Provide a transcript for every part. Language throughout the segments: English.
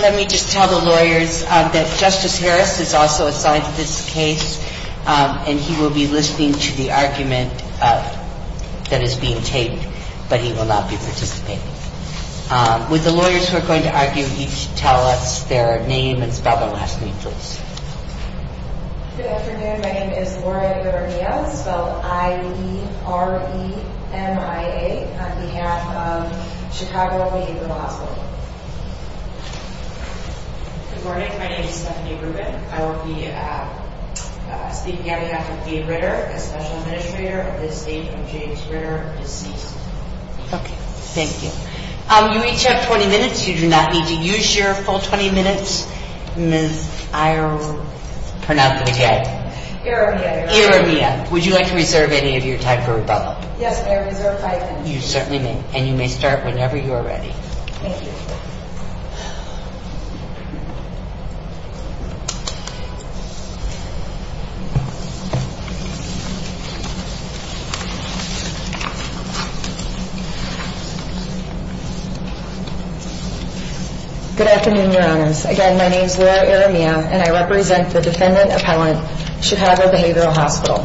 Let me just tell the lawyers that Justice Harris is also assigned to this case, and he will be listening to the argument that is being taped, but he will not be participating. Would the lawyers who are going to argue each tell us their name and spell their last name, please? Good afternoon, my name is Lauria Guvernia, spelled I-E-R-E-M-I-A, on behalf of Chicago Behavioral Hospital. Good morning, my name is Stephanie Rubin. I will be speaking on behalf of Lee Ritter, a special administrator of the estate of James Ritter, deceased. Okay, thank you. You each have 20 minutes. You do not need to use your full 20 minutes. Ms. Iremia, would you like to reserve any of your time for rebuttal? Yes, I reserve five minutes. You certainly may, and you may start whenever you are ready. Thank you. Good afternoon, Your Honors. Again, my name is Laura Iremia, and I represent the defendant appellant, Chicago Behavioral Hospital.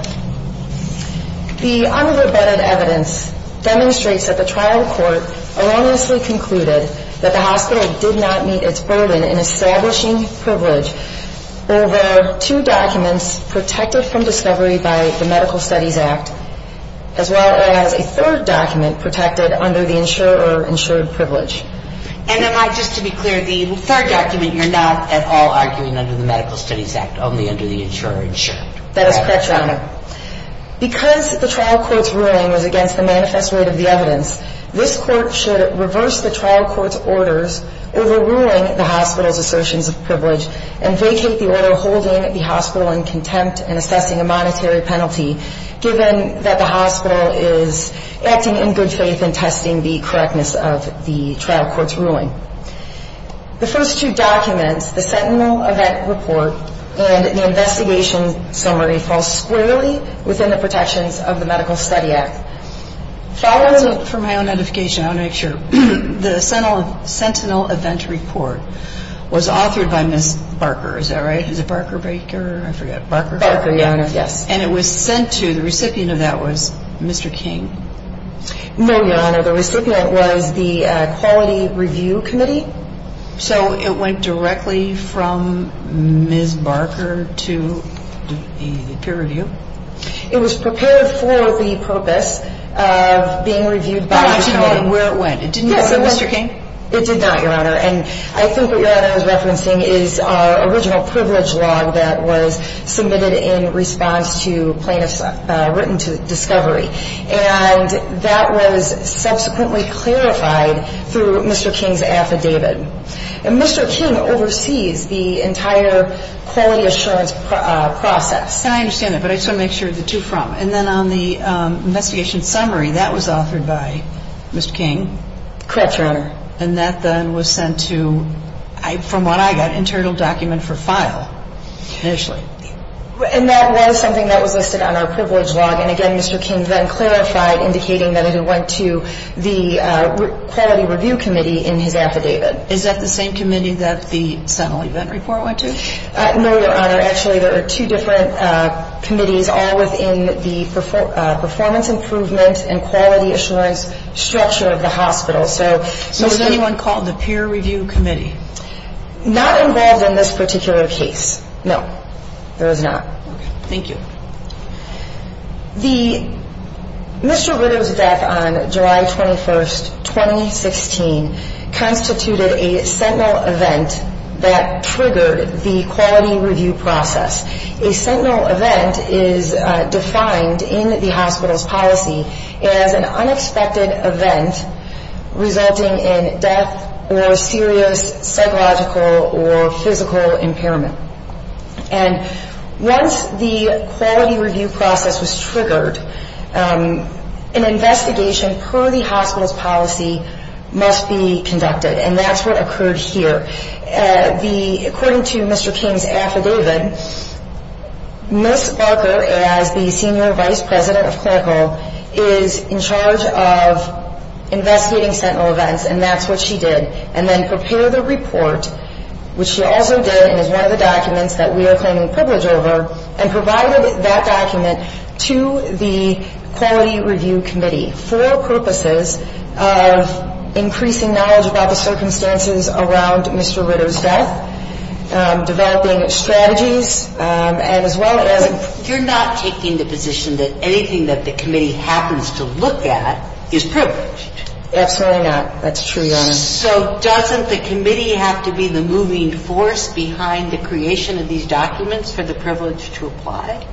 The unrebutted evidence demonstrates that the trial court erroneously concluded that the hospital did not meet its burden in establishing privilege over two documents protected from discovery by the Medical Studies Act, as well as a third document protected under the insurer-insured privilege. And am I just to be clear, the third document you're not at all arguing under the Medical Studies Act, only under the insurer-insured. That is correct, Your Honor. Because the trial court's ruling was against the manifest rate of the evidence, this Court should reverse the trial court's orders overruling the hospital's assertions of privilege, and vacate the order holding the hospital in contempt and assessing a monetary penalty, given that the hospital is acting in good faith and testing the correctness of the trial court's ruling. The first two documents, the Sentinel Event Report and the Investigation Summary, fall squarely within the protections of the Medical Studies Act. Followed, for my own edification, I want to make sure, the Sentinel Event Report was authored by Ms. Barker, is that right? Is it Barker Baker? I forget. Barker? Barker, Your Honor. Yes. And it was sent to, the recipient of that was Mr. King. No, Your Honor. The recipient was the Quality Review Committee. So it went directly from Ms. Barker to the peer review? It was prepared for the purpose of being reviewed by Mr. King. I want to know where it went. It didn't go to Mr. King? It did not, Your Honor. And I think what Your Honor is referencing is our original privilege log that was submitted in response to plaintiffs' written discovery. And that was subsequently clarified through Mr. King's affidavit. And Mr. King oversees the entire quality assurance process. I understand that, but I just want to make sure the two from. And then on the Investigation Summary, that was authored by Mr. King? Correct, Your Honor. And that then was sent to, from what I got, an internal document for file initially. And that was something that was listed on our privilege log. And again, Mr. King then clarified, indicating that it went to the Quality Review Committee in his affidavit. Is that the same committee that the Sentinel Event Report went to? No, Your Honor. Actually, there are two different committees, all within the performance improvement and quality assurance structure of the hospital. So was anyone called the Peer Review Committee? Not involved in this particular case. No, there was not. Thank you. The, Mr. Ritter's death on July 21st, 2016, constituted a Sentinel event that triggered the quality review process. A Sentinel event is defined in the hospital's policy as an unexpected event resulting in death or serious psychological or physical impairment. And once the quality review process was triggered, an investigation per the hospital's policy must be conducted. And that's what occurred here. The, according to Mr. King's affidavit, Ms. Parker, as the Senior Vice President of Clinical, is in charge of investigating Sentinel events. And that's what she did. And then prepared the report, which she also did and is one of the documents that we are claiming privilege over, and provided that document to the Quality Review Committee for purposes of increasing knowledge about the circumstances around Mr. Ritter's death, developing strategies, and as well as You're not taking the position that anything that the committee happens to look at is privileged. Absolutely not. That's true, Your Honor. So doesn't the committee have to be the moving force behind the creation of these documents for the privilege to apply?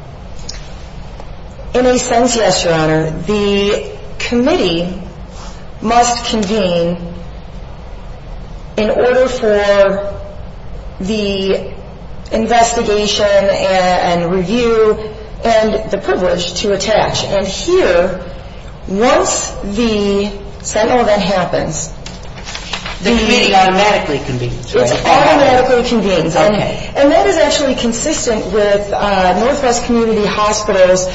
In a sense, yes, Your Honor. The committee must convene in order for the investigation and review and the privilege to attach. And here, once the Sentinel event happens, the committee automatically convenes. It automatically convenes. Okay. And that is actually consistent with Northwest Community Hospital's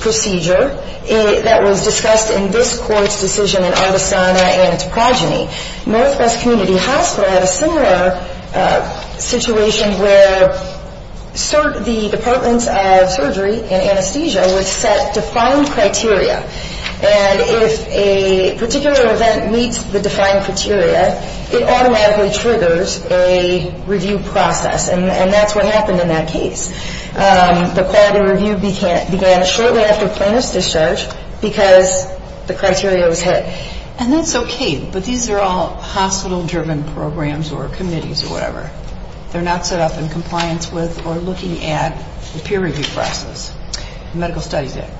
procedure that was discussed in this court's decision in Artesana and its progeny. Northwest Community Hospital had a similar situation where the Departments of Surgery and Anesthesia would set defined criteria. And if a particular event meets the defined criteria, it automatically triggers a review process. And that's what happened in that case. The Quality Review began shortly after plaintiff's discharge because the criteria was hit. And that's okay, but these are all hospital-driven programs or committees or whatever. They're not set up in compliance with or looking at the peer review process, the Medical Studies Act.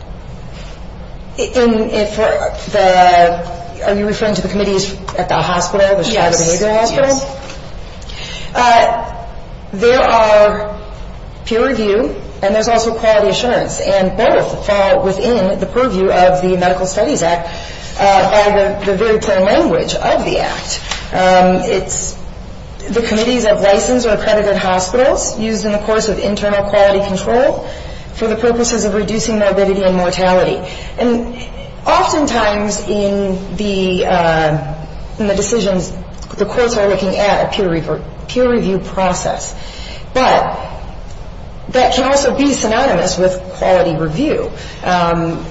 Are you referring to the committees at the hospital, the Chicago Behavioral Hospital? Yes. There are peer review and there's also quality assurance. And both fall within the purview of the Medical Studies Act by the very plain language of the Act. It's the committees of licensed or accredited hospitals used in the course of internal quality control for the purposes of reducing morbidity and mortality. And oftentimes in the decisions, the courts are looking at a peer review process. But that can also be synonymous with quality review.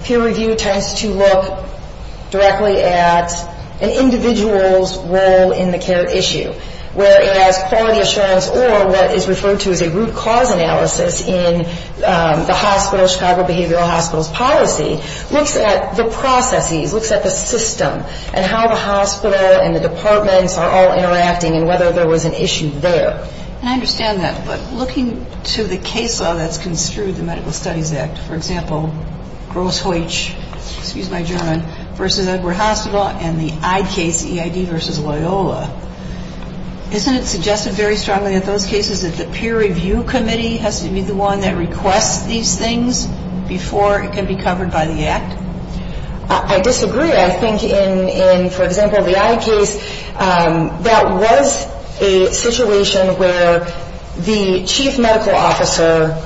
Peer review tends to look directly at an individual's role in the care issue. Whereas quality assurance or what is referred to as a root cause analysis in the hospital, Chicago Behavioral Hospital's policy, looks at the processes, looks at the system and how the hospital and the departments are all interacting and whether there was an issue there. And I understand that. But looking to the case law that's construed in the Medical Studies Act, for example, Gross-Heutsch, excuse my German, versus Edward Hospital and the EIDD case, EIDD versus Loyola, isn't it suggested very strongly in those cases that the peer review committee has to be the one that requests these things before it can be covered by the Act? I disagree. I think in, for example, the EIDD case, that was a situation where the chief medical officer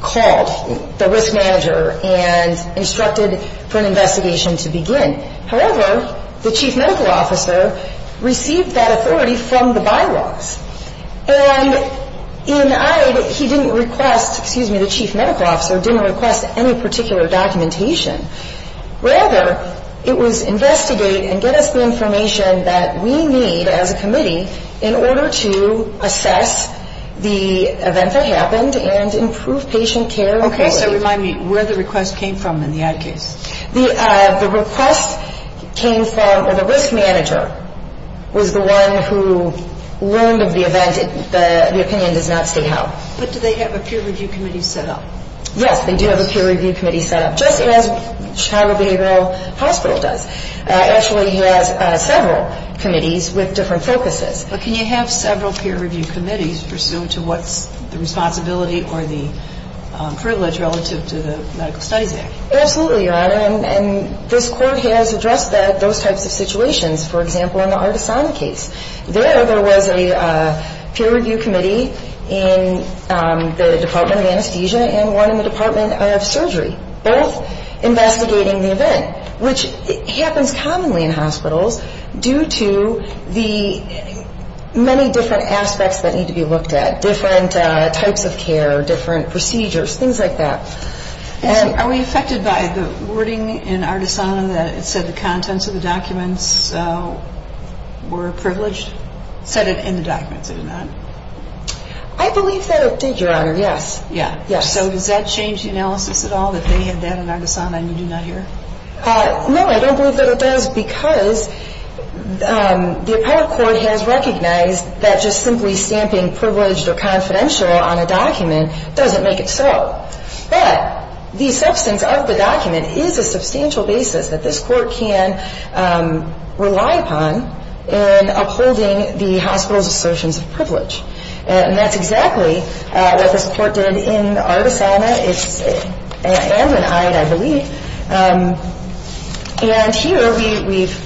called the risk manager and instructed for an investigation to begin. However, the chief medical officer received that authority from the bylaws. And in EIDD, he didn't request, excuse me, the chief medical officer didn't request any particular documentation. Rather, it was investigate and get us the information that we need as a committee in order to assess the event that happened and improve patient care. Okay, so remind me where the request came from in the EIDD case. The request came from, or the risk manager was the one who learned of the event. The opinion does not state how. But do they have a peer review committee set up? Yes, they do have a peer review committee set up, just as Chicago Behavioral Hospital does. It actually has several committees with different focuses. But can you have several peer review committees pursuant to what's the responsibility or the privilege relative to the Medical Studies Act? Absolutely, Your Honor. And this Court has addressed those types of situations, for example, in the Artisan case. There, there was a peer review committee in the Department of Anesthesia and one in the Department of Surgery, both investigating the event, which happens commonly in hospitals due to the many different aspects that need to be looked at, different types of care, different procedures, things like that. Are we affected by the wording in Artisan that it said the contents of the documents were privileged? It said it in the documents, did it not? I believe that it did, Your Honor, yes. Yeah. So does that change the analysis at all, that they had that in Artisan and you do not hear? No, I don't believe that it does because the Appellate Court has recognized that just simply stamping privileged or confidential on a document doesn't make it so. But the substance of the document is a substantial basis that this Court can rely upon in upholding the hospital's assertions of privilege. And that's exactly what this Court did in Artisana and in Hyde, I believe. And here we've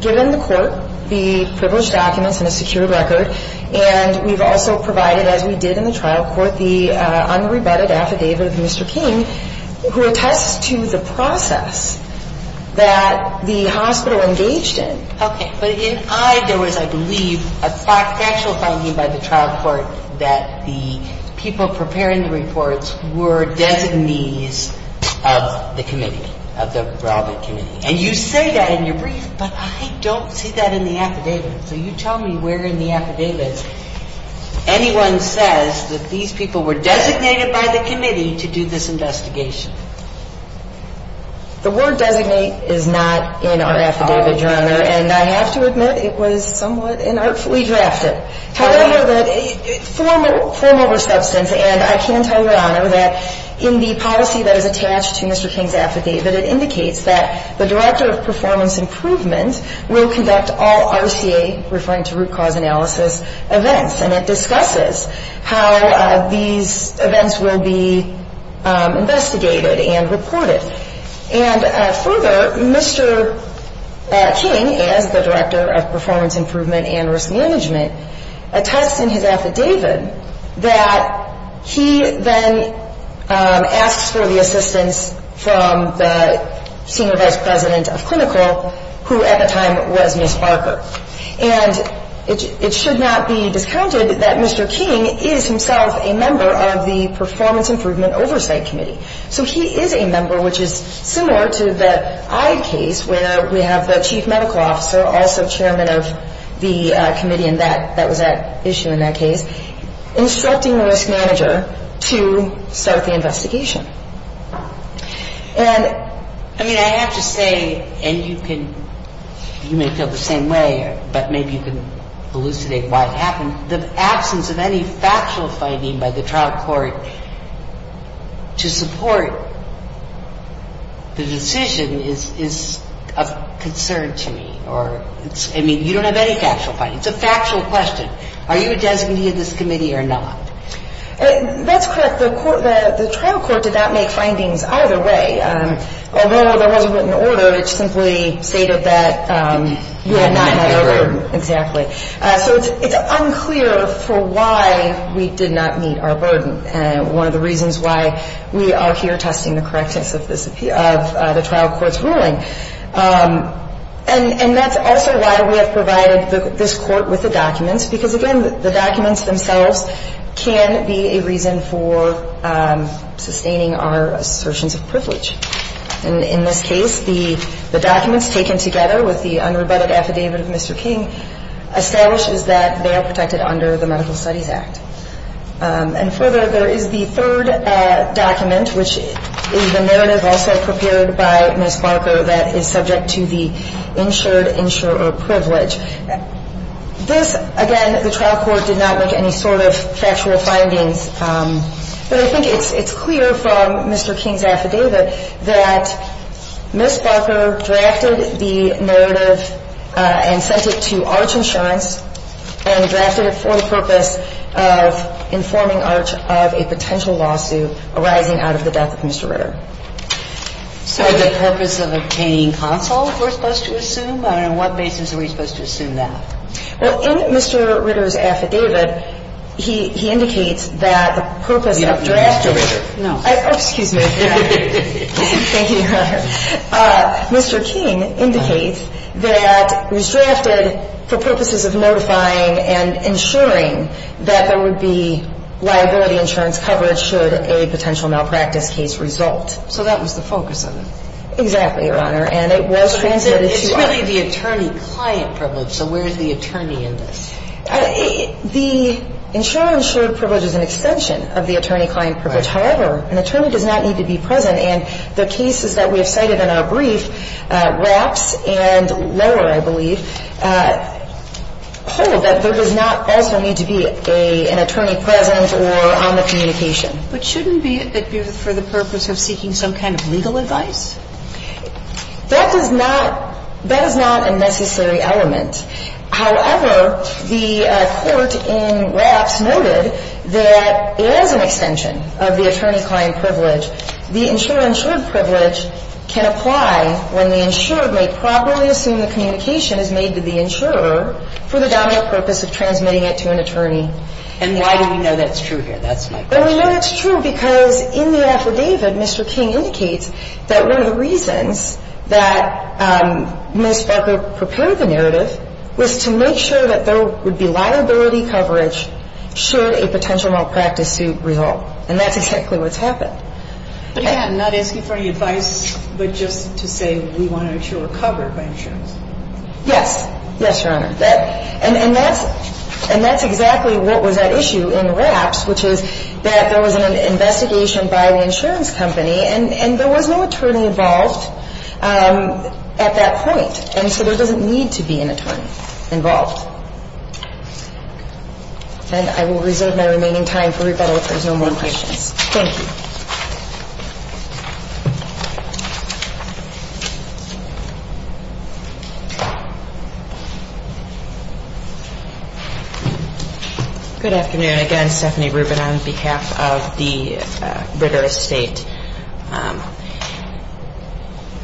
given the Court the privileged documents and a secure record, and we've also provided, as we did in the trial court, the unrebutted affidavit of Mr. King, who attests to the process that the hospital engaged in. Okay. But in Hyde, there was, I believe, a factual finding by the trial court that the people preparing the reports were designees of the committee, of the relevant committee. And you say that in your brief, but I don't see that in the affidavit. So you tell me where in the affidavit anyone says that these people were designated by the committee to do this investigation. The word designate is not in our affidavit, Your Honor, and I have to admit it was somewhat inartfully drafted. However, form over substance, and I can tell Your Honor that in the policy that is attached to Mr. King's affidavit, it indicates that the director of performance improvement will conduct all RCA, referring to root cause analysis, events. And it discusses how these events will be investigated and reported. And further, Mr. King, as the director of performance improvement and risk management, attests in his affidavit that he then asks for the assistance from the senior vice president of clinical, who at the time was Ms. Barker. And it should not be discounted that Mr. King is himself a member of the performance improvement oversight committee. So he is a member, which is similar to the Eyde case where we have the chief medical officer, also chairman of the committee in that, that was at issue in that case, instructing the risk manager to start the investigation. And, I mean, I have to say, and you can, you may feel the same way, but maybe you can elucidate why it happened. The absence of any factual finding by the trial court to support the decision is a concern to me. Or, I mean, you don't have any factual finding. It's a factual question. Are you a designee of this committee or not? That's correct. The trial court did not make findings either way. Although there was a written order, it simply stated that we had not met our burden. Exactly. So it's unclear for why we did not meet our burden. One of the reasons why we are here testing the correctness of the trial court's ruling. And that's also why we have provided this court with the documents. Because, again, the documents themselves can be a reason for sustaining our assertions of privilege. And in this case, the documents taken together with the unrebutted affidavit of Mr. King establishes that they are protected under the Medical Studies Act. And further, there is the third document, which is the narrative also prepared by Ms. Barker, that is subject to the insured insurer privilege. This, again, the trial court did not make any sort of factual findings. But I think it's clear from Mr. King's affidavit that Ms. Barker drafted the narrative and sent it to Arch Insurance and drafted it for the purpose of informing Arch of a potential lawsuit arising out of the death of Mr. Ritter. So the purpose of obtaining counsel, we're supposed to assume? And on what basis are we supposed to assume that? Well, in Mr. Ritter's affidavit, he indicates that the purpose of drafting. You don't know Mr. Ritter. No. Excuse me. Thank you, Your Honor. Mr. King indicates that it was drafted for purposes of notifying and ensuring that there would be liability insurance coverage should a potential malpractice case result. So that was the focus of it? Exactly, Your Honor. And it was transmitted to Arch. It's really the attorney-client privilege. So where is the attorney in this? The insurer-insured privilege is an extension of the attorney-client privilege. However, an attorney does not need to be present. And the cases that we have cited in our brief, RAPS and lower, I believe, hold that there does not also need to be an attorney present or on the communication. But shouldn't it be for the purpose of seeking some kind of legal advice? That is not a necessary element. However, the court in RAPS noted that it is an extension of the attorney-client privilege. The insurer-insured privilege can apply when the insurer may properly assume the communication is made to the insurer for the dominant purpose of transmitting it to an attorney. And why do we know that's true here? That's my question. Well, we know that's true because in the affidavit, Mr. King indicates that one of the reasons that Ms. Barker prepared the narrative was to make sure that there would be liability coverage should a potential malpractice suit result. And that's exactly what's happened. But you're not asking for any advice, but just to say we want an insurer covered by insurance. Yes. Yes, Your Honor. And that's exactly what was at issue in RAPS, which is that there was an investigation by the insurance company, and there was no attorney involved at that point. And so there doesn't need to be an attorney involved. And I will reserve my remaining time for rebuttal if there's no more questions. Thank you. Good afternoon. Again, Stephanie Rubin on behalf of the Ritter Estate.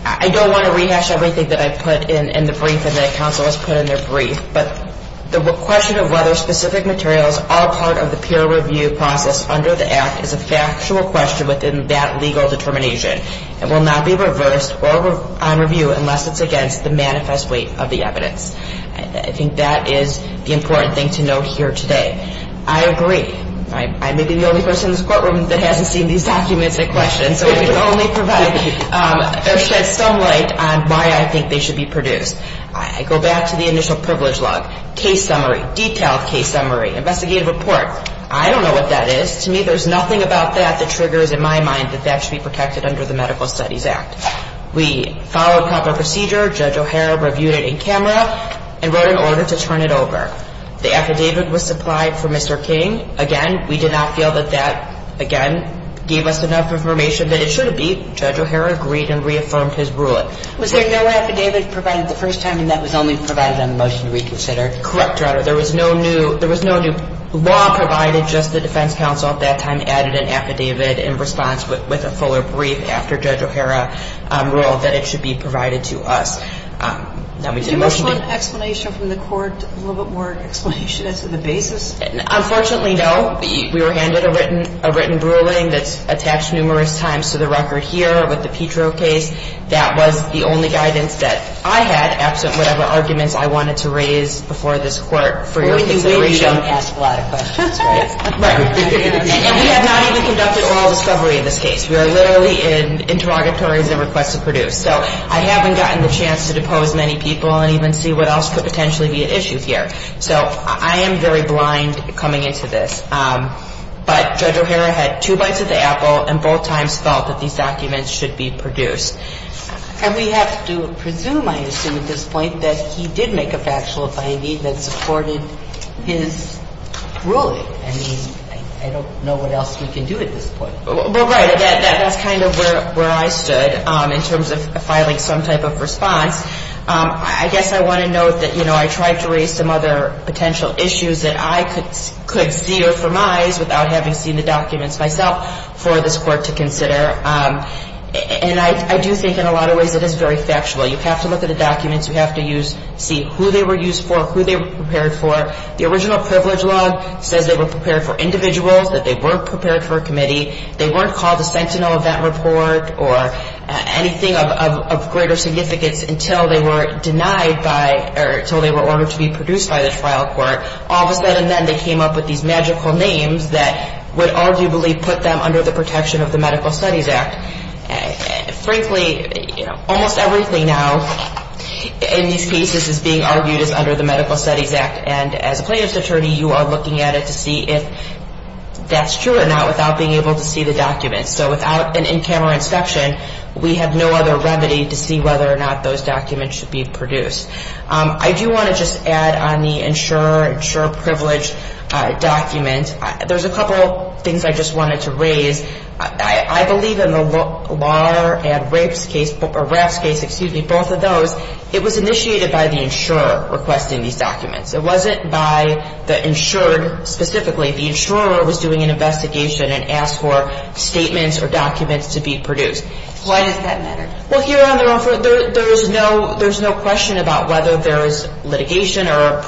I don't want to rehash everything that I put in the brief and that counsel has put in their brief. But the question of whether specific materials are part of the peer review process under the Act is a factual question within that legal determination. It will not be reversed on review unless it's against the manifest weight of the evidence. I think that is the important thing to note here today. I agree. I may be the only person in this courtroom that hasn't seen these documents in question, so I can only provide or shed some light on why I think they should be produced. I go back to the initial privilege log, case summary, detailed case summary, investigative report. I don't know what that is. To me, there's nothing about that that triggers in my mind that that should be protected under the Medical Studies Act. We followed proper procedure. Judge O'Hara reviewed it in camera and wrote an order to turn it over. The affidavit was supplied for Mr. King. Again, we did not feel that that, again, gave us enough information that it should be. Judge O'Hara agreed and reaffirmed his ruling. Was there no affidavit provided the first time, and that was only provided on the motion to reconsider? Correct, Your Honor. There was no new law provided. Just the defense counsel at that time added an affidavit in response, but with a fuller brief after Judge O'Hara ruled that it should be provided to us. Do you have one explanation from the court, a little bit more explanation as to the basis? Unfortunately, no. We were handed a written ruling that's attached numerous times to the record here with the Petro case. That was the only guidance that I had, absent whatever arguments I wanted to raise before this Court for your consideration. So you don't ask a lot of questions, right? Right. And we have not even conducted oral discovery in this case. We are literally in interrogatories and requests to produce. So I haven't gotten the chance to depose many people and even see what else could potentially be at issue here. So I am very blind coming into this. But Judge O'Hara had two bites of the apple and both times felt that these documents should be produced. And we have to presume, I assume at this point, that he did make a factual finding that supported his ruling. I mean, I don't know what else we can do at this point. Well, right. That's kind of where I stood in terms of filing some type of response. I guess I want to note that, you know, I tried to raise some other potential issues that I could see or have seen the documents myself for this Court to consider. And I do think in a lot of ways it is very factual. You have to look at the documents. You have to see who they were used for, who they were prepared for. The original privilege law says they were prepared for individuals, that they were prepared for a committee. They weren't called a sentinel of that report or anything of greater significance until they were denied by or until they were ordered to be produced by the trial court. All of a sudden then they came up with these magical names that would arguably put them under the protection of the Medical Studies Act. Frankly, you know, almost everything now in these cases is being argued as under the Medical Studies Act. And as plaintiff's attorney, you are looking at it to see if that's true or not without being able to see the documents. So without an in-camera inspection, we have no other remedy to see whether or not those documents should be produced. I do want to just add on the insurer, insurer privilege document. There's a couple things I just wanted to raise. I believe in the LAR and RAPS case, both of those, it was initiated by the insurer requesting these documents. It wasn't by the insured specifically. The insurer was doing an investigation and asked for statements or documents to be produced. Why does that matter? Well, here on their offer, there's no question about whether there is litigation or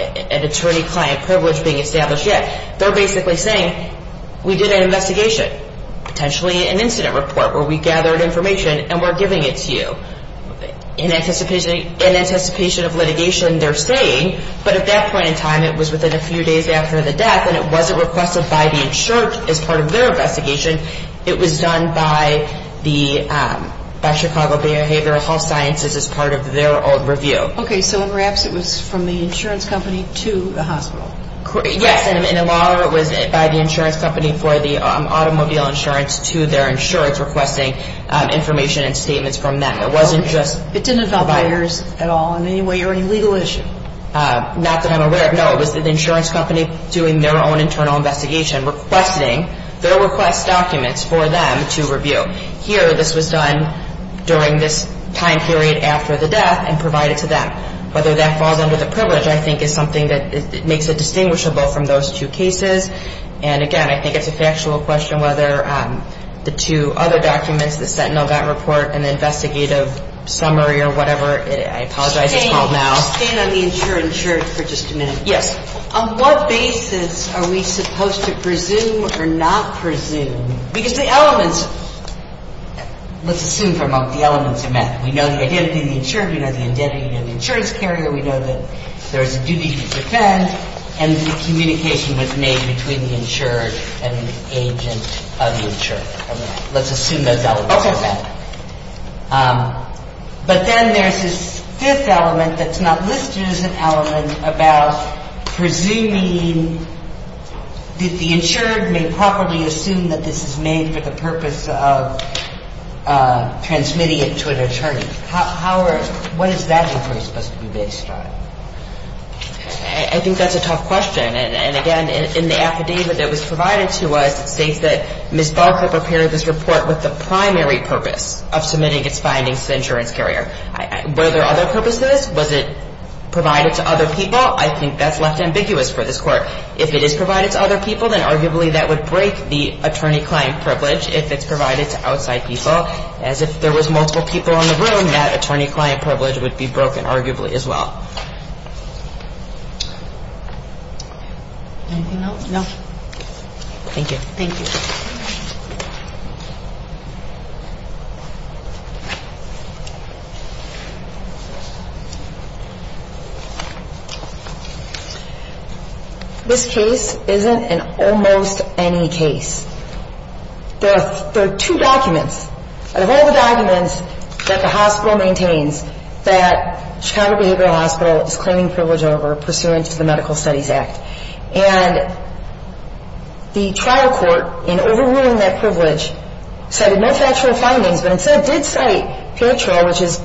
an attorney-client privilege being established yet. They're basically saying we did an investigation, potentially an incident report, where we gathered information and we're giving it to you in anticipation of litigation, they're saying. But at that point in time, it was within a few days after the death, and it wasn't requested by the insured as part of their investigation. It was done by Chicago Behavioral Health Sciences as part of their old review. Okay, so in RAPS, it was from the insurance company to the hospital. Yes, and in LAR, it was by the insurance company for the automobile insurance to their insurance requesting information and statements from them. It didn't involve hires at all in any way or any legal issue? Not that I'm aware of, no. It was the insurance company doing their own internal investigation, requesting their request documents for them to review. Here, this was done during this time period after the death and provided to them. Whether that falls under the privilege, I think, is something that makes it distinguishable from those two cases. And, again, I think it's a factual question whether the two other documents, the Sentinel Gantt report and the investigative summary or whatever, I apologize it's called now. Staying on the insured insurance for just a minute. Yes. On what basis are we supposed to presume or not presume? Because the elements, let's assume for a moment the elements are met. We know the identity of the insured, we know the identity of the insurance carrier, we know that there is a duty to defend, and the communication was made between the insured and the agent of the insured. Let's assume those elements are met. But then there's this fifth element that's not listed as an element about presuming that the insured may properly assume that this is made for the purpose of transmitting it to an attorney. How are, what is that inquiry supposed to be based on? I think that's a tough question. And, again, in the affidavit that was provided to us, it states that Ms. Barker prepared this report with the primary purpose of submitting its findings to the insurance carrier. Were there other purposes? Was it provided to other people? I think that's left ambiguous for this Court. If it is provided to other people, then arguably that would break the attorney-client privilege. If it's provided to outside people, as if there was multiple people in the room, that attorney-client privilege would be broken arguably as well. Anything else? No. Thank you. Thank you. This case isn't an almost any case. There are two documents. Out of all the documents that the hospital maintains that Chicago Behavioral Hospital is claiming privilege over pursuant to the Medical Studies Act. And the trial court, in overruling that privilege, cited no factual findings, but instead did cite paratrial, which is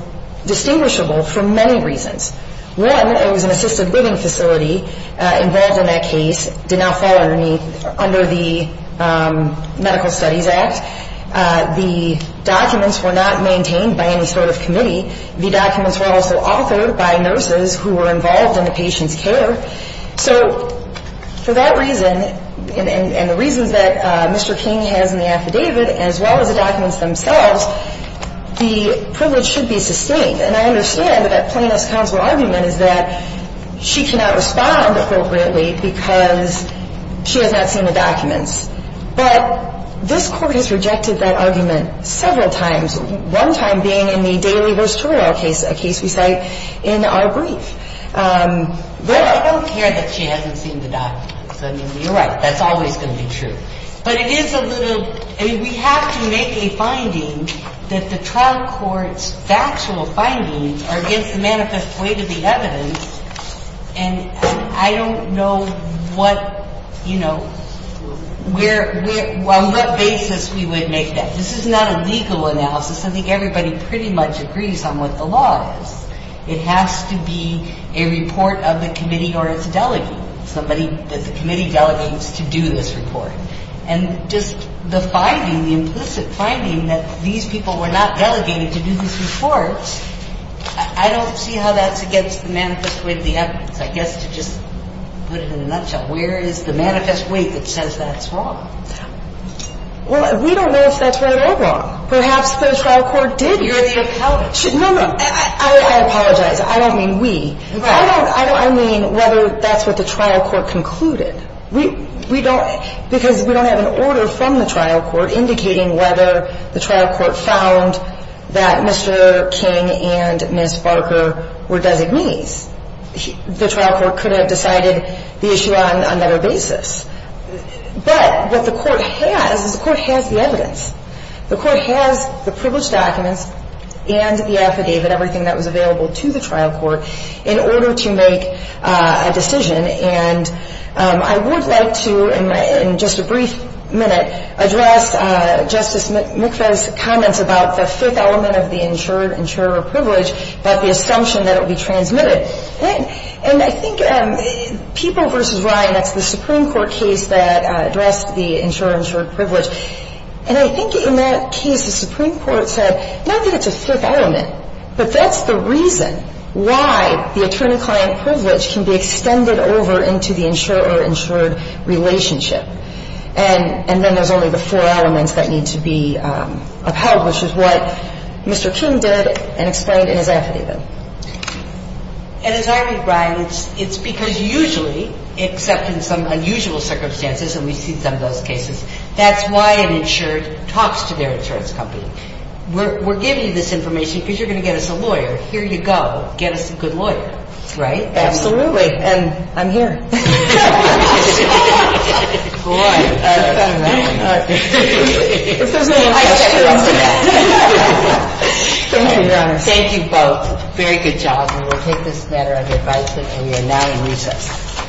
distinguishable for many reasons. One, it was an assisted living facility involved in that case, did not fall under the Medical Studies Act. The documents were not maintained by any sort of committee. The documents were also authored by nurses who were involved in the patient's care. So for that reason, and the reasons that Mr. King has in the affidavit, as well as the documents themselves, the privilege should be sustained. And I understand that that plaintiff's counsel argument is that she cannot respond appropriately because she has not seen the documents. But this Court has rejected that argument several times, one time being in the Daily vs. Torero case, a case we cite in our brief. But I don't care that she hasn't seen the documents. I mean, you're right. That's always going to be true. But it is a little – I mean, we have to make a finding that the trial court's factual findings are against the manifest weight of the evidence. And I don't know what – you know, where – on what basis we would make that. This is not a legal analysis. I think everybody pretty much agrees on what the law is. It has to be a report of the committee or its delegate, somebody that the committee delegates to do this report. And just the finding, the implicit finding that these people were not delegated to do these reports, I don't see how that's against the manifest weight of the evidence. I guess to just put it in a nutshell, where is the manifest weight that says that's wrong? Well, we don't know if that's right or wrong. Perhaps the trial court did hear the accountants. No, no. I apologize. I don't mean we. I don't – I mean whether that's what the trial court concluded. We don't – because we don't have an order from the trial court indicating whether the trial court found that Mr. King and Ms. Barker were designees. The trial court could have decided the issue on another basis. But what the court has is the court has the evidence. The court has the privileged documents and the affidavit, everything that was available to the trial court, in order to make a decision. And I would like to, in just a brief minute, address Justice McPherson's comments about the fifth element of the insurer privilege, that the assumption that it will be transmitted. And I think People v. Ryan, that's the Supreme Court case that addressed the insurer-insured privilege. And I think in that case the Supreme Court said not that it's a fifth element, but that's the reason why the attorney-client privilege can be extended over into the insurer-insured relationship. And then there's only the four elements that need to be upheld, which is what Mr. King did and explained in his affidavit. And as I read, Brian, it's because usually, except in some unusual circumstances, and we've seen some of those cases, that's why an insured talks to their insurance company. We're giving you this information because you're going to get us a lawyer. Here you go. Get us a good lawyer. Right? Absolutely. And I'm here. Thank you both. Very good job. And we'll take this matter under advisory. And we are now in recess.